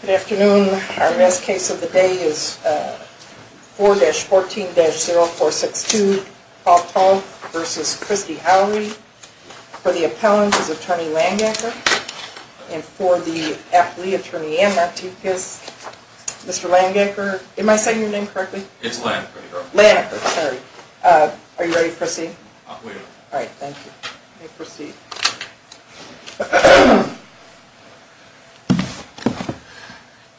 Good afternoon. Our best case of the day is 4-14-0462 Paul Toth v. Christy Howrey. For the appellant is Attorney Landacre. And for the athlete, Attorney Ann Martinez. Mr. Landacre, am I saying your name correctly? It's Landacre. Landacre, sorry. Are you ready to proceed? Alright, thank you. You may proceed.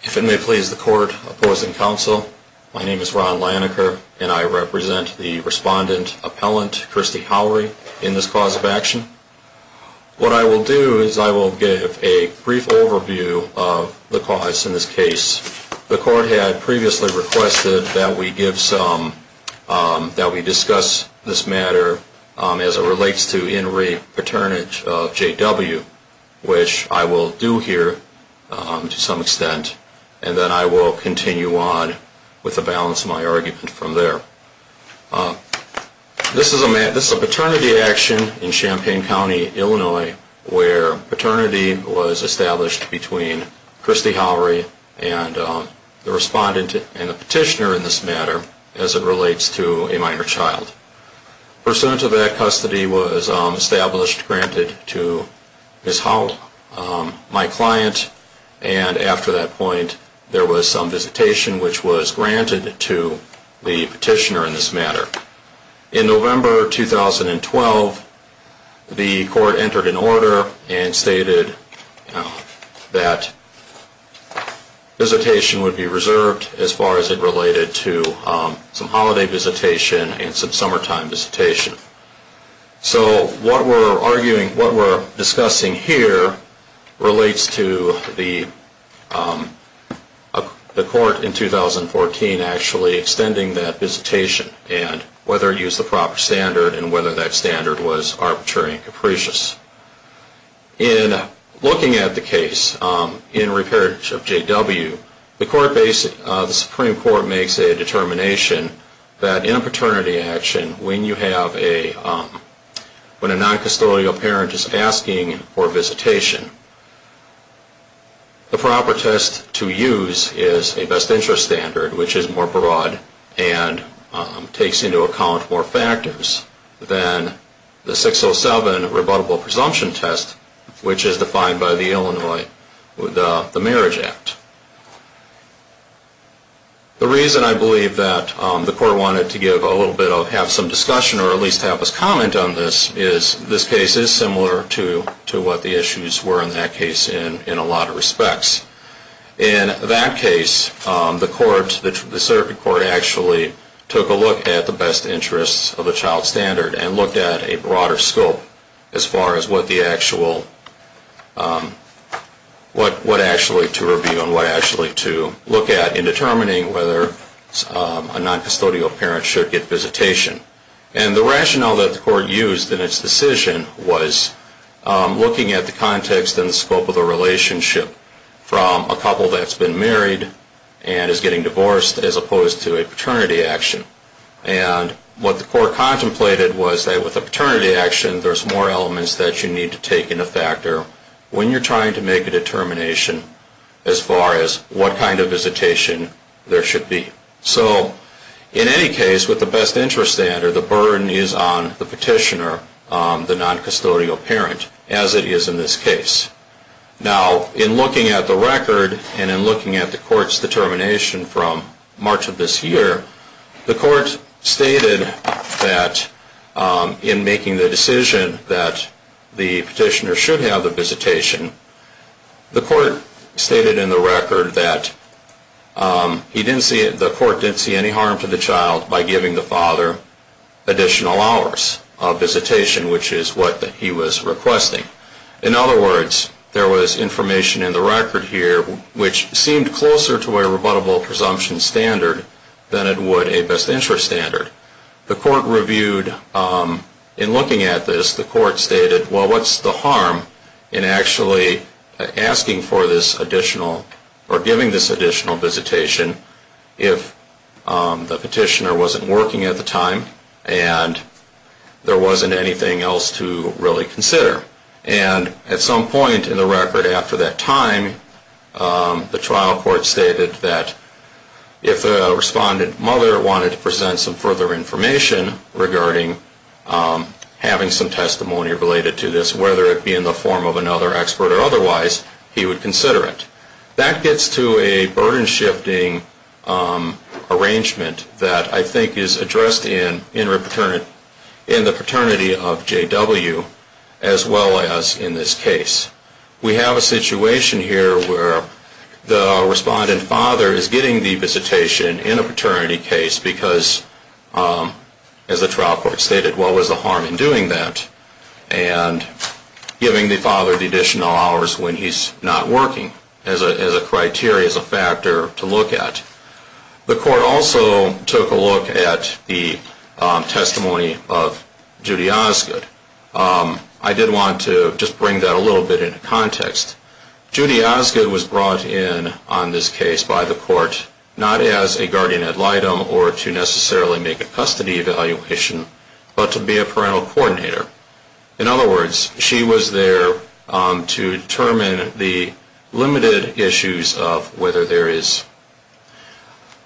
If it may please the court opposing counsel, my name is Ron Landacre and I represent the respondent appellant Christy Howrey in this cause of action. What I will do is I will give a brief overview of the cause in this case. The court had previously requested that we give some, that we discuss this matter as it relates to in-rape paternity of J.W. Which I will do here to some extent and then I will continue on with the balance of my argument from there. This is a paternity action in Champaign County, Illinois where paternity was established between Christy Howrey and the respondent and the petitioner in this matter as it relates to a minor child. Pursuant to that custody was established, granted to Ms. Howrey, my client, and after that point there was some visitation which was granted to the petitioner in this matter. In November 2012, the court entered an order and stated that visitation would be reserved as far as it related to some holiday visitation and some summertime visitation. So what we are arguing, what we are discussing here relates to the court in 2014 actually extending that visitation and whether it used the proper standard and whether that standard was arbitrary and capricious. In looking at the case in repairage of J.W., the Supreme Court makes a determination that in a paternity action when you have a, when a non-custodial parent is asking for visitation, the proper test to use is a best interest standard which is more broad and takes into account more factors than the 607 rebuttable procedure. And then there is a presumption test which is defined by the Illinois Marriage Act. The reason I believe that the court wanted to give a little bit of, have some discussion or at least have us comment on this is this case is similar to what the issues were in that case in a lot of respects. In that case, the court, the circuit court actually took a look at the best interests of the child standard and looked at a broader scope as far as what the actual, what actually to review and what actually to look at in determining whether a non-custodial parent should get visitation. And the rationale that the court used in its decision was looking at the context and scope of the relationship from a couple that has been married and is getting divorced as opposed to a paternity action. And what the court contemplated was that with a paternity action, there is more elements that you need to take into factor when you are trying to make a determination as far as what kind of visitation there should be. So in any case, with the best interest standard, the burden is on the petitioner, the non-custodial parent, as it is in this case. Now, in looking at the record and in looking at the court's determination from March of this year, the court stated that in making the decision that the petitioner should have the visitation, the court stated in the record that the court didn't see any harm to the child by giving the father additional hours of visitation, which is what he was requesting. In other words, there was information in the record here which seemed closer to a rebuttable presumption standard than it would a best interest standard. The court reviewed, in looking at this, the court stated, well, what's the harm in actually asking for this additional or giving this additional visitation if the petitioner wasn't working at the time and there wasn't anything else to really consider? And at some point in the record after that time, the trial court stated that if the respondent mother wanted to present some further information regarding having some testimony related to this, whether it be in the form of another expert or otherwise, he would consider it. That gets to a burden-shifting arrangement that I think is addressed in the paternity of JW as well as in this case. We have a situation here where the respondent father is getting the visitation in a paternity case because, as the trial court stated, what was the harm in doing that? And giving the father the additional hours when he's not working as a criteria, as a factor to look at. The court also took a look at the testimony of Judy Osgood. I did want to just bring that a little bit into context. Judy Osgood was brought in on this case by the court not as a guardian ad litem or to necessarily make a custody evaluation, but to be a parental coordinator. In other words, she was there to determine the limited issues of whether there is,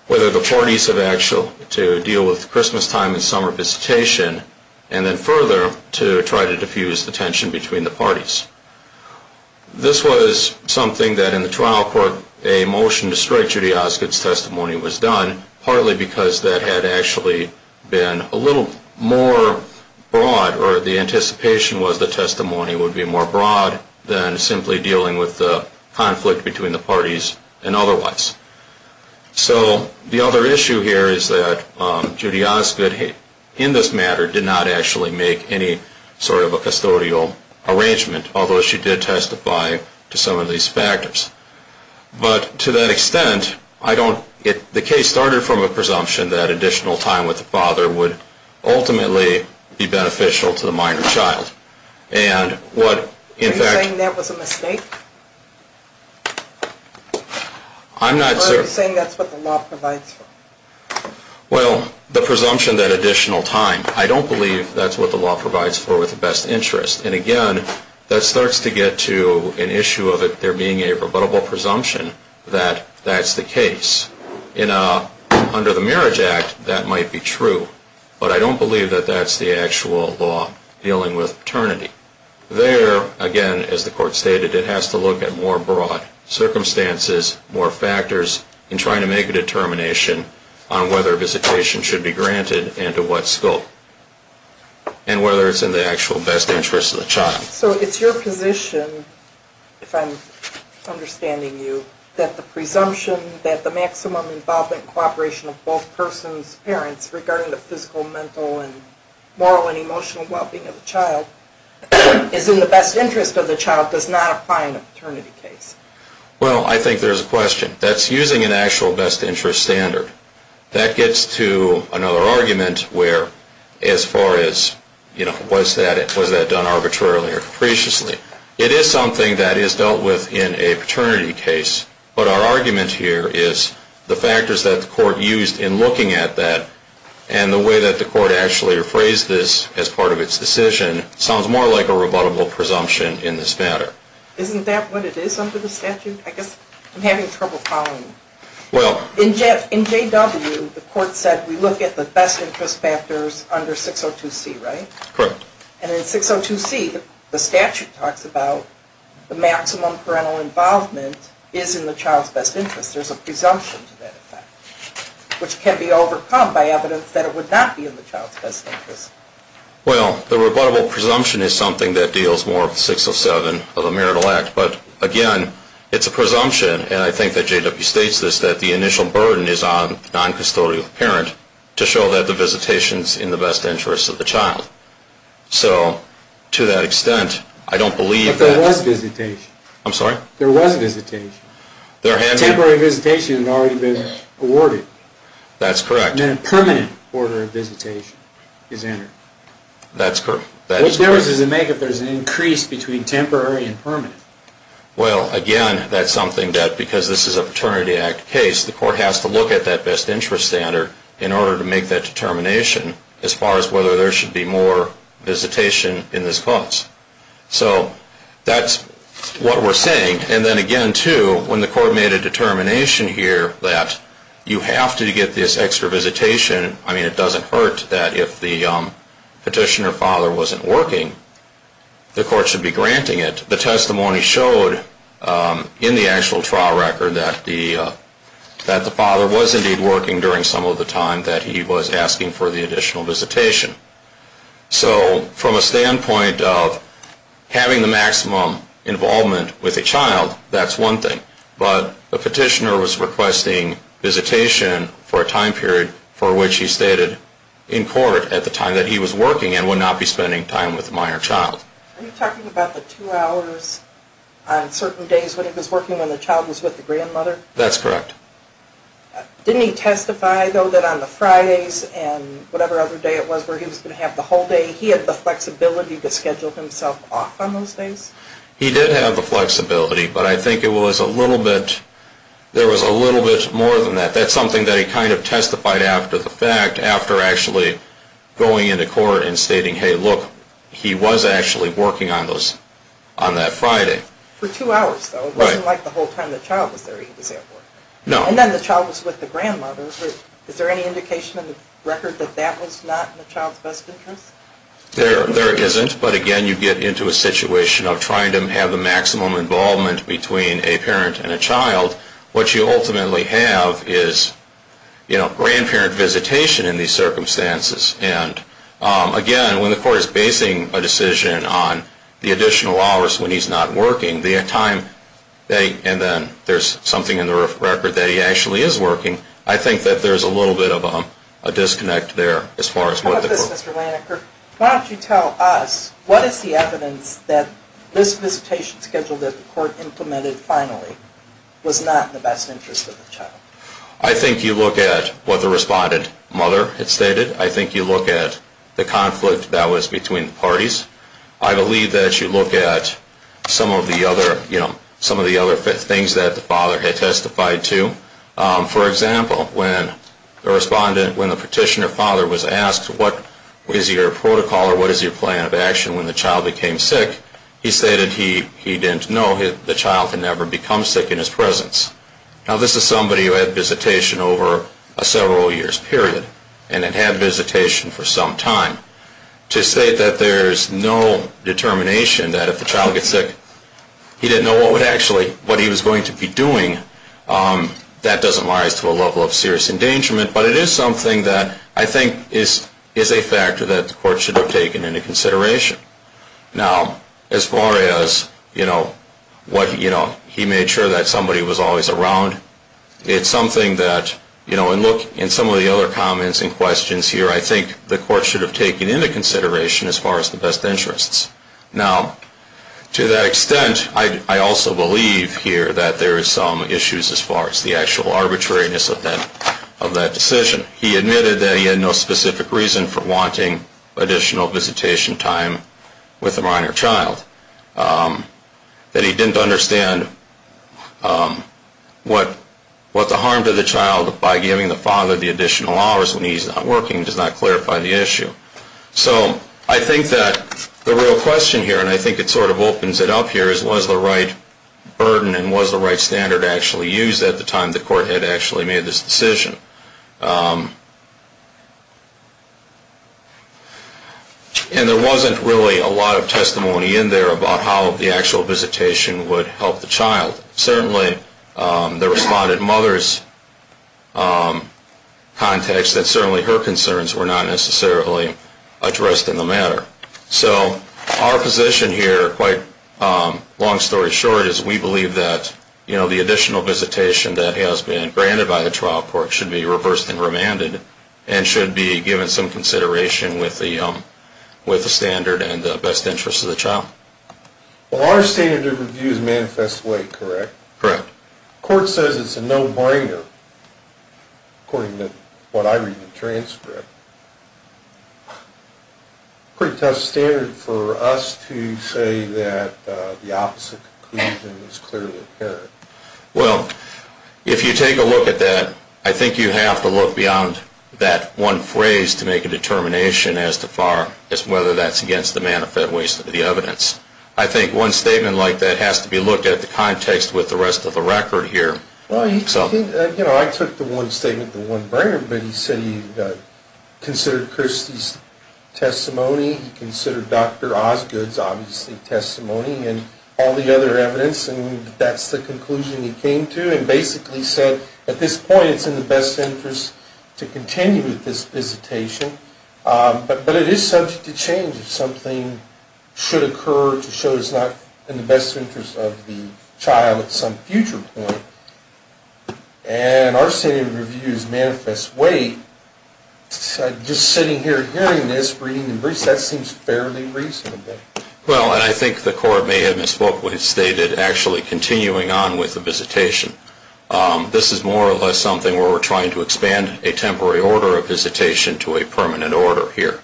whether the parties have actually to deal with Christmas time and summer visitation, and then further to try to diffuse the tension between the parties. This was something that, in the trial court, a motion to strike Judy Osgood's testimony was done, partly because that had actually been a little more broad, or the anticipation was the testimony would be more broad, than simply dealing with the conflict between the parties and otherwise. So the other issue here is that Judy Osgood, in this matter, did not actually make any sort of a custodial arrangement, although she did testify to some of these factors. But to that extent, I don't, the case started from a presumption that additional time with the father would ultimately be beneficial to the minor child. And what, in fact... Are you saying that was a mistake? I'm not... Or are you saying that's what the law provides for? Well, the presumption that additional time, I don't believe that's what the law provides for with the best interest. And again, that starts to get to an issue of it there being a rebuttable presumption that that's the case. Under the Marriage Act, that might be true, but I don't believe that that's the actual law dealing with paternity. There, again, as the court stated, it has to look at more broad circumstances, more factors, and try to make a determination on whether visitation should be granted and to what scope. And whether it's in the actual best interest of the child. So it's your position, if I'm understanding you, that the presumption that the maximum involvement and cooperation of both persons' parents regarding the physical, mental, and moral and emotional well-being of the child is in the best interest of the child does not apply in a paternity case? Well, I think there's a question. That's using an actual best interest standard. That gets to another argument where as far as, you know, was that done arbitrarily or capriciously? It is something that is dealt with in a paternity case. But our argument here is the factors that the court used in looking at that and the way that the court actually rephrased this as part of its decision sounds more like a rebuttable presumption in this matter. Isn't that what it is under the statute? I guess I'm having trouble following. In J.W., the court said we look at the best interest factors under 602C, right? Correct. And in 602C, the statute talks about the maximum parental involvement is in the child's best interest. There's a presumption to that effect, which can be overcome by evidence that it would not be in the child's best interest. Well, the rebuttable presumption is something that deals more with 607 of a marital act. But again, it's a presumption, and I think that J.W. states this, that the initial burden is on the noncustodial parent to show that the visitation is in the best interest of the child. So to that extent, I don't believe that... But there was visitation. I'm sorry? There was visitation. Temporary visitation had already been awarded. That's correct. Then a permanent order of visitation is entered. That's correct. What difference does it make if there's an increase between temporary and permanent? Well, again, that's something that, because this is a Paternity Act case, the court has to look at that best interest standard in order to make that determination as far as whether there should be more visitation in this clause. So that's what we're saying. And then again, too, when the court made a determination here that you have to get this extra visitation, I mean, it doesn't hurt that if the petitioner father wasn't working, the court should be granting it. The testimony showed in the actual trial record that the father was indeed working during some of the time that he was asking for the additional visitation. So from a standpoint of having the maximum involvement with a child, that's one thing. But the petitioner was requesting visitation for a time period for which he stated in court at the time that he was working and would not be spending time with a minor child. Are you talking about the two hours on certain days when he was working when the child was with the grandmother? That's correct. Didn't he testify, though, that on the Fridays and whatever other day it was where he was going to have the whole day, he had the flexibility to schedule himself off on those days? He did have the flexibility, but I think it was a little bit, there was a little bit more than that. That's something that he kind of testified after the fact, after actually going into court and stating, hey, look, he was actually working on those, on that Friday. For two hours, though. Right. It wasn't like the whole time the child was there he was at work. No. And then the child was with the grandmother. Is there any indication in the record that that was not in the child's best interest? There isn't. But again, you get into a situation of trying to have the maximum involvement between a parent and a child. What you ultimately have is, you know, grandparent visitation in these circumstances. And again, when the court is basing a decision on the additional hours when he's not working, the time, and then there's something in the record that he actually is working, I think that there's a little bit of a disconnect there as far as what the court. On top of this, Mr. Laniker, why don't you tell us, what is the evidence that this visitation schedule that the court implemented finally was not in the best interest of the child? I think you look at what the respondent mother had stated. I think you look at the conflict that was between the parties. I believe that you look at some of the other, you know, some of the other things that the father had testified to. For example, when the respondent, when the petitioner father was asked, what is your protocol or what is your plan of action when the child became sick? He stated he didn't know the child could never become sick in his presence. Now, this is somebody who had visitation over a several years period and had had visitation for some time. To say that there's no determination that if the child gets sick, he didn't know what would actually, what he was going to be doing, that doesn't rise to a level of serious endangerment. But it is something that I think is a factor that the court should have taken into consideration. Now, as far as, you know, what, you know, he made sure that somebody was always around. It's something that, you know, and look in some of the other comments and questions here, I think the court should have taken into consideration as far as the best interests. Now, to that extent, I also believe here that there is some issues as far as the actual arbitrariness of that decision. He admitted that he had no specific reason for wanting additional visitation time with a minor child. That he didn't understand what the harm to the child by giving the father the additional hours when he's not working does not clarify the issue. So I think that the real question here, and I think it sort of opens it up here, is was the right burden and was the right standard actually used at the time the court had actually made this decision? And there wasn't really a lot of testimony in there about how the actual visitation would help the child. Certainly there was a lot of mother's context that certainly her concerns were not necessarily addressed in the matter. So our position here, quite long story short, is we believe that, you know, the additional visitation that has been granted by the trial court should be reversed and remanded and should be given some consideration with the standard and the best interests of the child. Well, our standard of review is manifest way, correct? Correct. The court says it's a no-brainer, according to what I read in the transcript. Pretty tough standard for us to say that the opposite conclusion is clearly apparent. Well, if you take a look at that, I think you have to look beyond that one phrase to make a determination as to whether that's against the manifest ways of the evidence. I think one statement like that has to be looked at the context with the rest of the record here. Well, you know, I took the one statement, the one-brainer, but he said he considered Kirstie's testimony. He considered Dr. Osgood's, obviously, testimony and all the other evidence. And that's the conclusion he came to and basically said at this point it's in the best interest to continue with this visitation. But it is subject to change if something should occur to show it's not in the best interest of the child at some future point. And our standard of review is manifest way. Just sitting here hearing this, reading the briefs, that seems fairly reasonable. Well, and I think the court may have misspoke when it stated actually continuing on with the visitation. This is more or less something where we're trying to expand a temporary order of visitation to a permanent order here.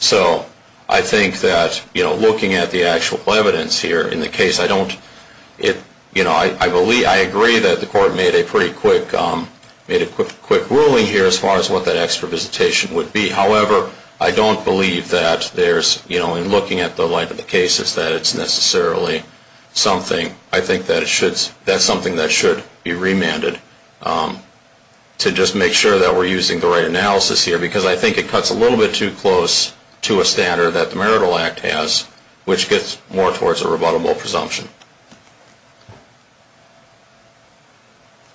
So I think that, you know, looking at the actual evidence here in the case, I don't, you know, I agree that the court made a pretty quick ruling here as far as what that extra visitation would be. However, I don't believe that there's, you know, in looking at the length of the case, it's that it's necessarily something I think that it should, that's something that should be remanded to just make sure that we're using the right analysis here. Because I think it cuts a little bit too close to a standard that the Marital Act has, which gets more towards a rebuttable presumption.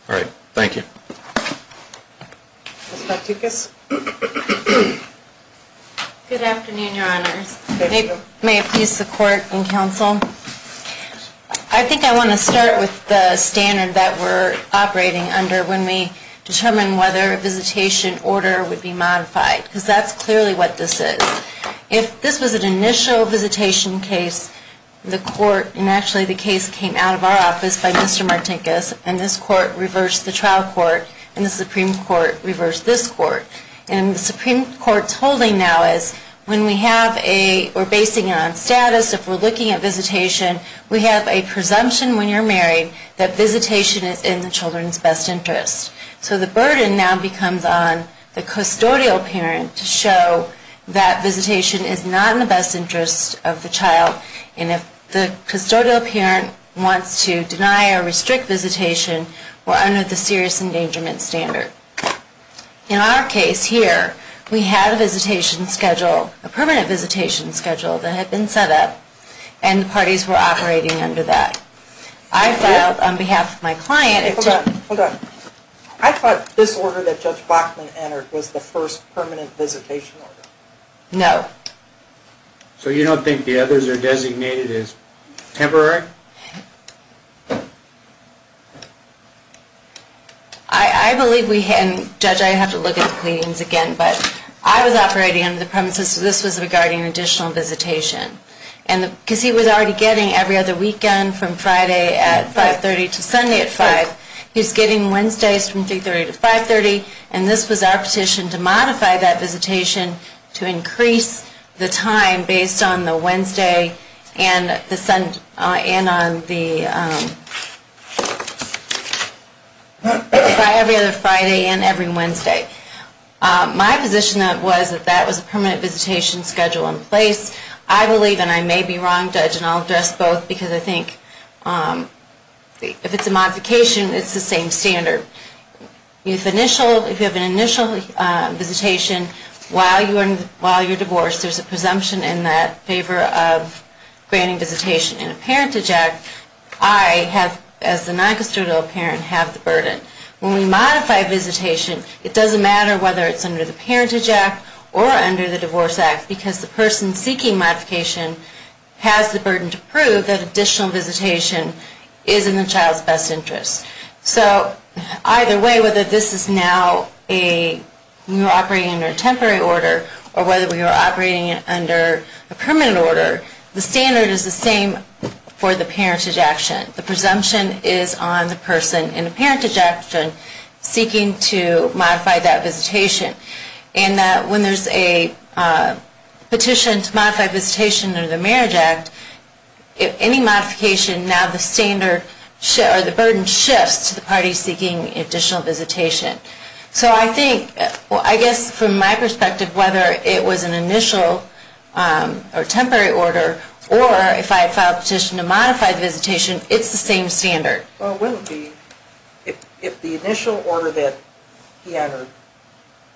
All right, thank you. Ms. Martinkus. Good afternoon, Your Honors. May it please the court and counsel. I think I want to start with the standard that we're operating under when we determine whether a visitation order would be modified. Because that's clearly what this is. If this was an initial visitation case, the court, and actually the case came out of our office by Mr. Martinkus, and this court reversed the trial court, and the Supreme Court reversed this court. And the Supreme Court's holding now is when we have a, we're basing it on status, if we're looking at visitation, we have a presumption when you're married that visitation is in the children's best interest. So the burden now becomes on the custodial parent to show that visitation is not in the best interest of the child. And if the custodial parent wants to deny or restrict visitation, we're under the serious endangerment standard. In our case here, we had a visitation schedule, a permanent visitation schedule that had been set up, and the parties were operating under that. I filed on behalf of my client. Hold on, hold on. I thought this order that Judge Bachman entered was the first permanent visitation order. No. So you don't think the others are designated as temporary? I believe we had, and Judge, I have to look at the pleadings again, but I was operating under the premise that this was regarding additional visitation. And because he was already getting every other weekend from Friday at 5.30 to Sunday at 5, he's getting Wednesdays from 3.30 to 5.30. And this was our petition to modify that visitation to increase the time based on the Wednesday and the Sunday, and on the Friday and every Wednesday. My position was that that was a permanent visitation schedule in place. I believe, and I may be wrong, Judge, and I'll address both, because I think if it's a modification, it's the same standard. If you have an initial visitation while you're divorced, there's a presumption in that favor of granting visitation. And a parent to Jack, I have, as the non-custodial parent, have the burden. When we modify visitation, it doesn't matter whether it's under the parent to Jack or under the Divorce Act, because the person seeking modification has the burden to prove that additional visitation is in the child's best interest. So either way, whether this is now a, you're operating under a temporary order, or whether we are operating under a permanent order, the standard is the same for the parent to Jack. The presumption is on the person in the parent to Jack seeking to modify that visitation. And when there's a petition to modify visitation under the Marriage Act, if any modification, now the standard or the burden shifts to the party seeking additional visitation. So I think, I guess from my perspective, whether it was an initial or temporary order, or if I filed a petition to modify the visitation, it's the same standard. Well, if the initial order that he entered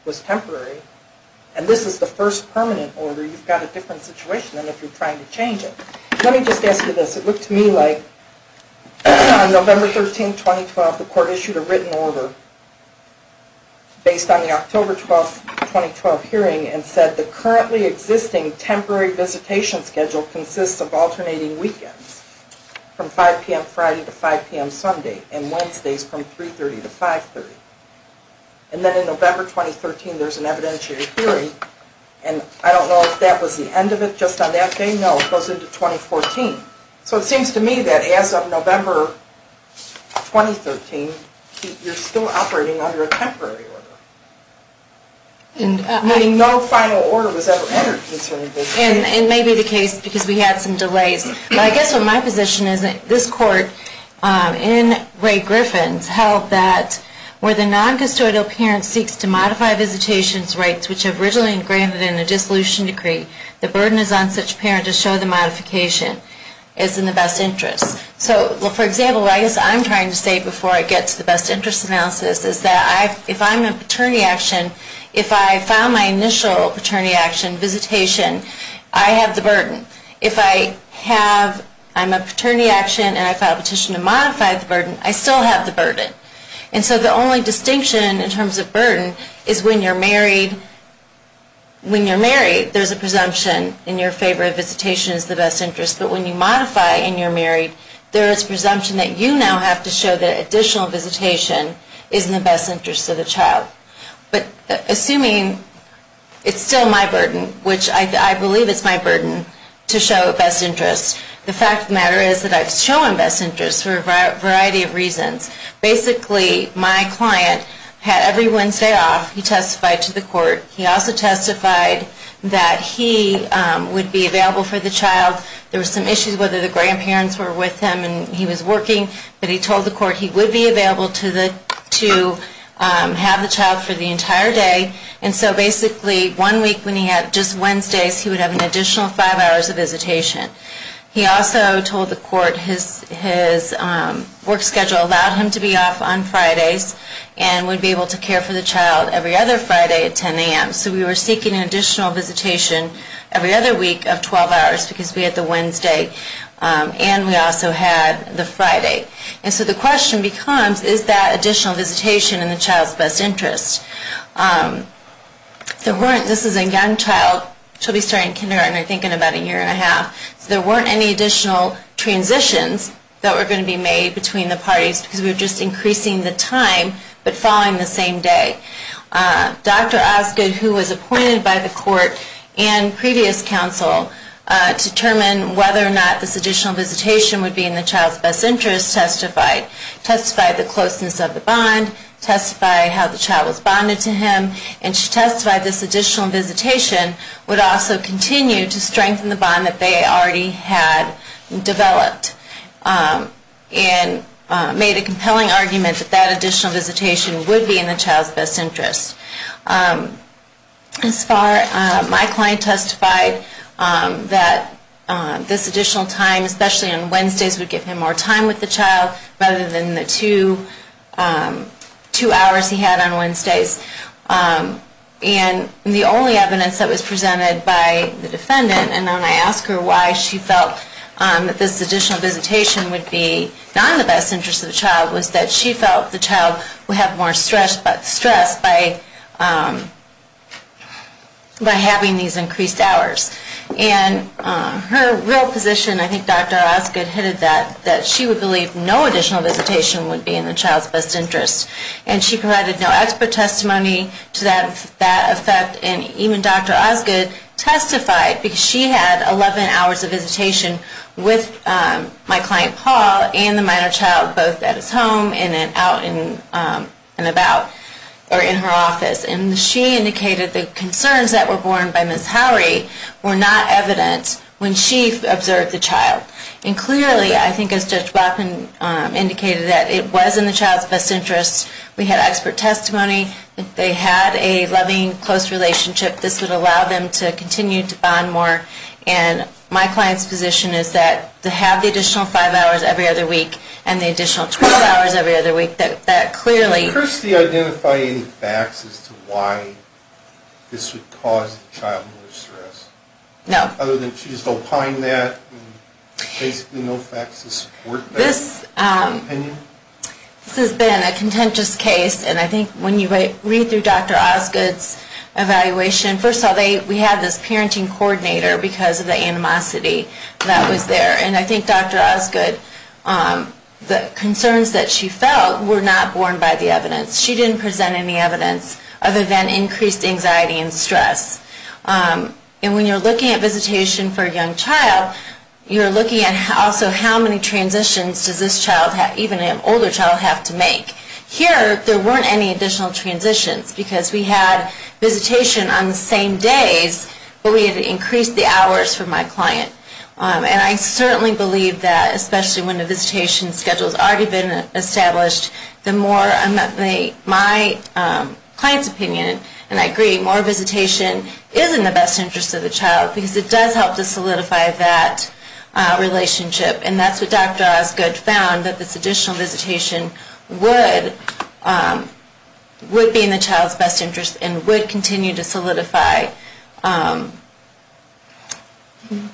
was temporary, and this is the first permanent order, you've got a different situation than if you're trying to change it. Let me just ask you this. It looked to me like on November 13, 2012, the court issued a written order based on the October 12, 2012 hearing and said the currently existing temporary visitation schedule consists of alternating weekends from 5 p.m. Friday to 5 p.m. Sunday, and Wednesdays from 3.30 to 5.30. And then in November 2013, there's an evidentiary hearing, and I don't know if that was the end of it just on that day. I don't know. It goes into 2014. So it seems to me that as of November 2013, you're still operating under a temporary order, meaning no final order was ever entered concerning visitation. And it may be the case, because we had some delays. But I guess what my position is that this court, in Ray Griffin's, held that where the non-custodial parent seeks to modify visitation's rights, which are originally engraved in a dissolution decree, the burden is on such a parent to show the modification is in the best interest. So for example, what I guess I'm trying to say before I get to the best interest analysis is that if I'm a paternity action, if I file my initial paternity action visitation, I have the burden. If I'm a paternity action and I file a petition to modify the burden, I still have the burden. And so the only distinction in terms of burden is when you're married, there's a presumption in your favor that visitation is the best interest. But when you modify and you're married, there is a presumption that you now have to show that additional visitation is in the best interest of the child. But assuming it's still my burden, which I believe it's my burden to show best interest, the fact of the matter is that I've shown best interest for a child. And so basically my client had every Wednesday off, he testified to the court. He also testified that he would be available for the child. There were some issues whether the grandparents were with him and he was working. But he told the court he would be available to have the child for the entire day. And so basically one week when he had just Wednesdays, he would have an additional five hours of visitation. He also told the court his work schedule allowed him to be off on Fridays and would be able to care for the child every other Friday at 10 a.m. So we were seeking an additional visitation every other week of 12 hours because we had the Wednesday and we also had the Friday. And so the question becomes, is that additional visitation in the child's best interest? This is a young child. She'll be starting kindergarten, I think, in about a year and a half. So there weren't any additional transitions that were going to be made between the parties because we were just increasing the time but following the same day. Dr. Osgood, who was appointed by the court and previous counsel to determine whether or not this additional visitation would be in the child's best interest, testified the closeness of the bond, testified how the child was bonded to him, and she testified this additional visitation would also continue to strengthen the bond that they already had developed and made a compelling argument that that additional visitation would be in the child's best interest. As far as my client testified, that this additional time, especially on Wednesdays, would give him more time with the child rather than the two hours he had on Wednesdays. And the only evidence that was presented by the defendant, and when I asked her why she felt that this additional visitation would be not in the best interest of the child, was that she felt the child would have more stress by having these increased hours. And her real position, I think Dr. Osgood hinted that she would believe no additional visitation would be in the child's best interest. And she provided no expert testimony to that effect, and even Dr. Osgood testified, because she had 11 hours of visitation with my client Paul and the minor child, both at his home and out and about, or in her office. And she indicated the concerns that were borne by Ms. Howrey were not evident when she observed the child. And clearly, I think as Judge Blackman indicated, that it was in the child's best interest. We had expert testimony. They had a loving, close relationship. This would allow them to continue to bond more. And my client's position is that to have the additional five hours every other week, and the additional 12 hours every other week, that clearly… Did Kirstie identify any facts as to why this would cause the child more stress? No. Other than she just opined that, and basically no facts to support that opinion? This has been a contentious case. And I think when you read through Dr. Osgood's evaluation, first of all, we had this parenting coordinator because of the animosity that was there. And I think Dr. Osgood, the concerns that she felt were not borne by the evidence. She didn't present any evidence of event-increased anxiety and stress. And when you're looking at visitation for a young child, you're looking at also how many transitions does this child, even an older child, have to make. Here, there weren't any additional transitions because we had visitation on the same days, but we had increased the hours for my client. And I certainly believe that, especially when the visitation schedule has already been established, the more… My client's opinion, and I agree, more visitation is in the best interest of the child because it does help to solidify that relationship. And that's what Dr. Osgood found, that this additional visitation would be in the child's best interest and would continue to solidify the relationship.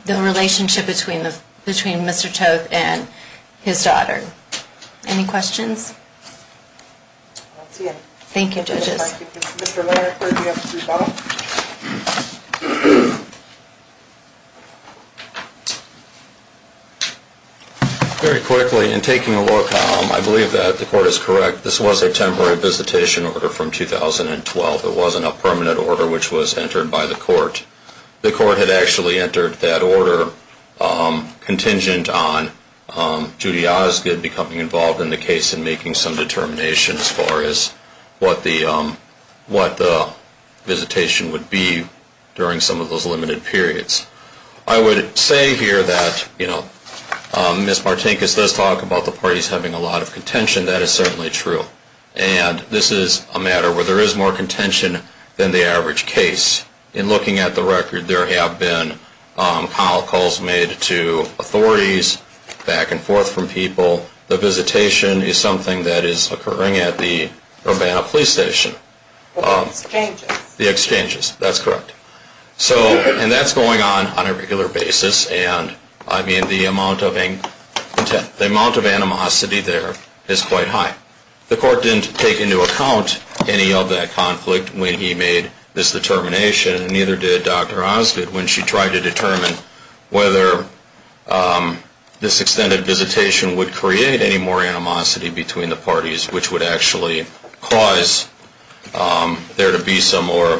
The relationship between Mr. Toth and his daughter. Any questions? I don't see any. Thank you, judges. Thank you. Mr. Larrick, would you like to respond? Very quickly, in taking a look, I believe that the court is correct. This was a temporary visitation order from 2012. It wasn't a permanent order which was entered by the court. The court had actually entered that order contingent on Judy Osgood becoming involved in the case and making some determinations as far as what the visitation would be during some of those limited periods. I would say here that, you know, Ms. Martinkus does talk about the parties having a lot of contention. That is certainly true. And this is a matter where there is more contention than the average case. In looking at the record, there have been call calls made to authorities, back and forth from people. The visitation is something that is occurring at the Urbana Police Station. The exchanges. The exchanges. That's correct. And that's going on on a regular basis. And, I mean, the amount of animosity there is quite high. The court didn't take into account any of that conflict when he made this determination, and neither did Dr. Osgood, when she tried to determine whether this extended visitation would create any more animosity between the parties, which would actually cause there to be some more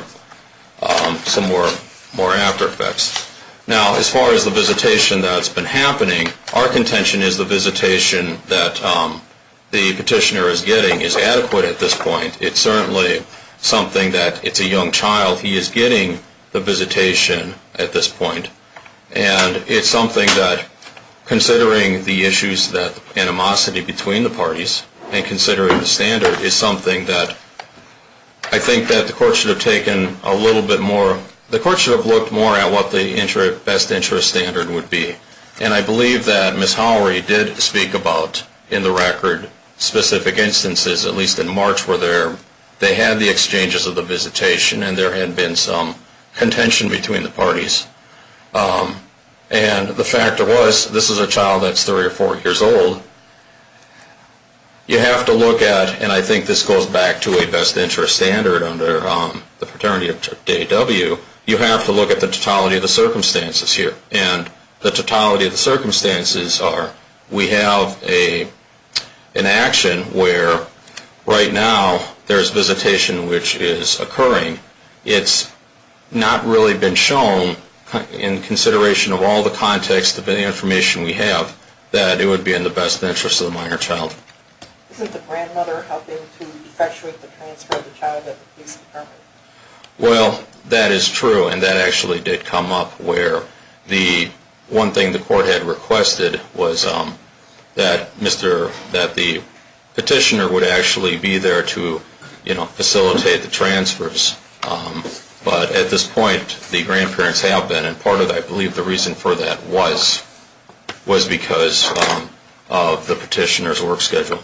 after effects. Now, as far as the visitation that's been happening, our contention is the visitation that the petitioner is getting is adequate at this point. It's certainly something that it's a young child. He is getting the visitation at this point. And it's something that, considering the issues that animosity between the parties, and considering the standard, is something that I think that the court should have taken a little bit more. The court should have looked more at what the best interest standard would be. And I believe that Ms. Howery did speak about, in the record, specific instances, at least in March, where they had the exchanges of the visitation and there had been some contention between the parties. And the fact was, this is a child that's three or four years old. So you have to look at, and I think this goes back to a best interest standard under the paternity of DAW, you have to look at the totality of the circumstances here. And the totality of the circumstances are, we have an action where, right now, there's visitation which is occurring. It's not really been shown, in consideration of all the context of the information we have, that it would be in the best interest of the minor child. Isn't the grandmother helping to effectuate the transfer of the child at the police department? Well, that is true. And that actually did come up where the one thing the court had requested was that the petitioner would actually be there to facilitate the transfers. But at this point, the grandparents have been. And part of, I believe, the reason for that was because of the petitioner's work schedule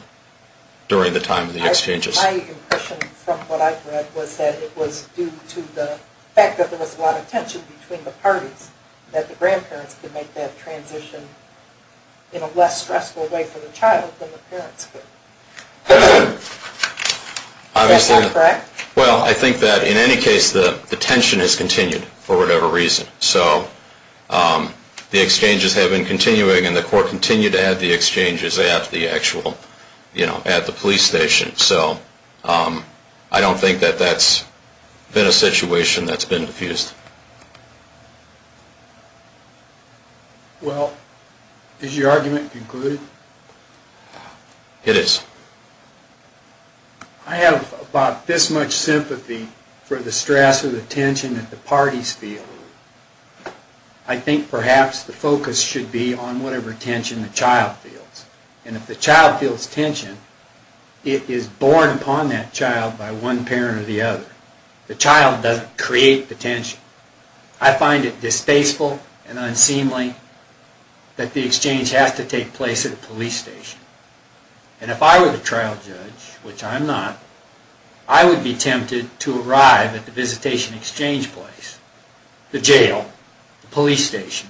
during the time of the exchanges. My impression from what I've read was that it was due to the fact that there was a lot of tension between the parties. That the grandparents could make that transition in a less stressful way for the child than the parents could. Is that not correct? Well, I think that, in any case, the tension has continued for whatever reason. So, the exchanges have been continuing and the court continued to have the exchanges at the police station. So, I don't think that that's been a situation that's been diffused. Well, is your argument concluded? It is. I have about this much sympathy for the stress or the tension that the parties feel. I think, perhaps, the focus should be on whatever tension the child feels. And if the child feels tension, it is borne upon that child by one parent or the other. The child doesn't create the tension. I find it distasteful and unseemly that the exchange has to take place at a police station. And if I were the trial judge, which I'm not, I would be tempted to arrive at the visitation exchange place, the jail, the police station.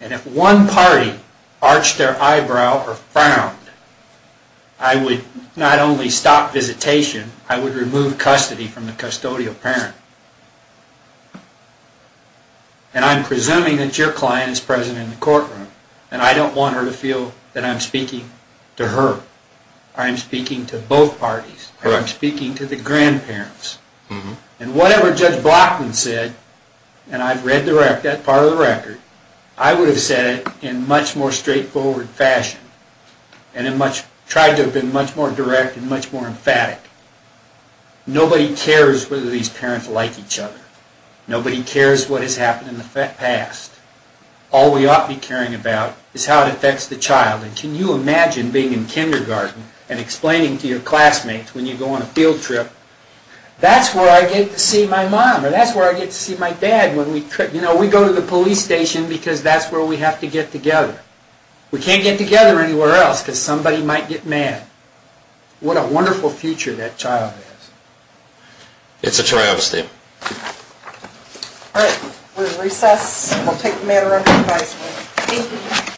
And if one party arched their eyebrow or frowned, I would not only stop visitation, I would remove custody from the custodial parent. And I'm presuming that your client is present in the courtroom. And I don't want her to feel that I'm speaking to her. I'm speaking to both parties. I'm speaking to the grandparents. And whatever Judge Blockman said, and I've read that part of the record, I would have said it in a much more straightforward fashion. And tried to have been much more direct and much more emphatic. Nobody cares whether these parents like each other. Nobody cares what has happened in the past. All we ought to be caring about is how it affects the child. And can you imagine being in kindergarten and explaining to your classmates when you go on a field trip, that's where I get to see my mom, or that's where I get to see my dad. You know, we go to the police station because that's where we have to get together. We can't get together anywhere else because somebody might get mad. What a wonderful future that child has. It's a trial, Steve. All right. We'll recess. We'll take the matter under advisement. Thank you.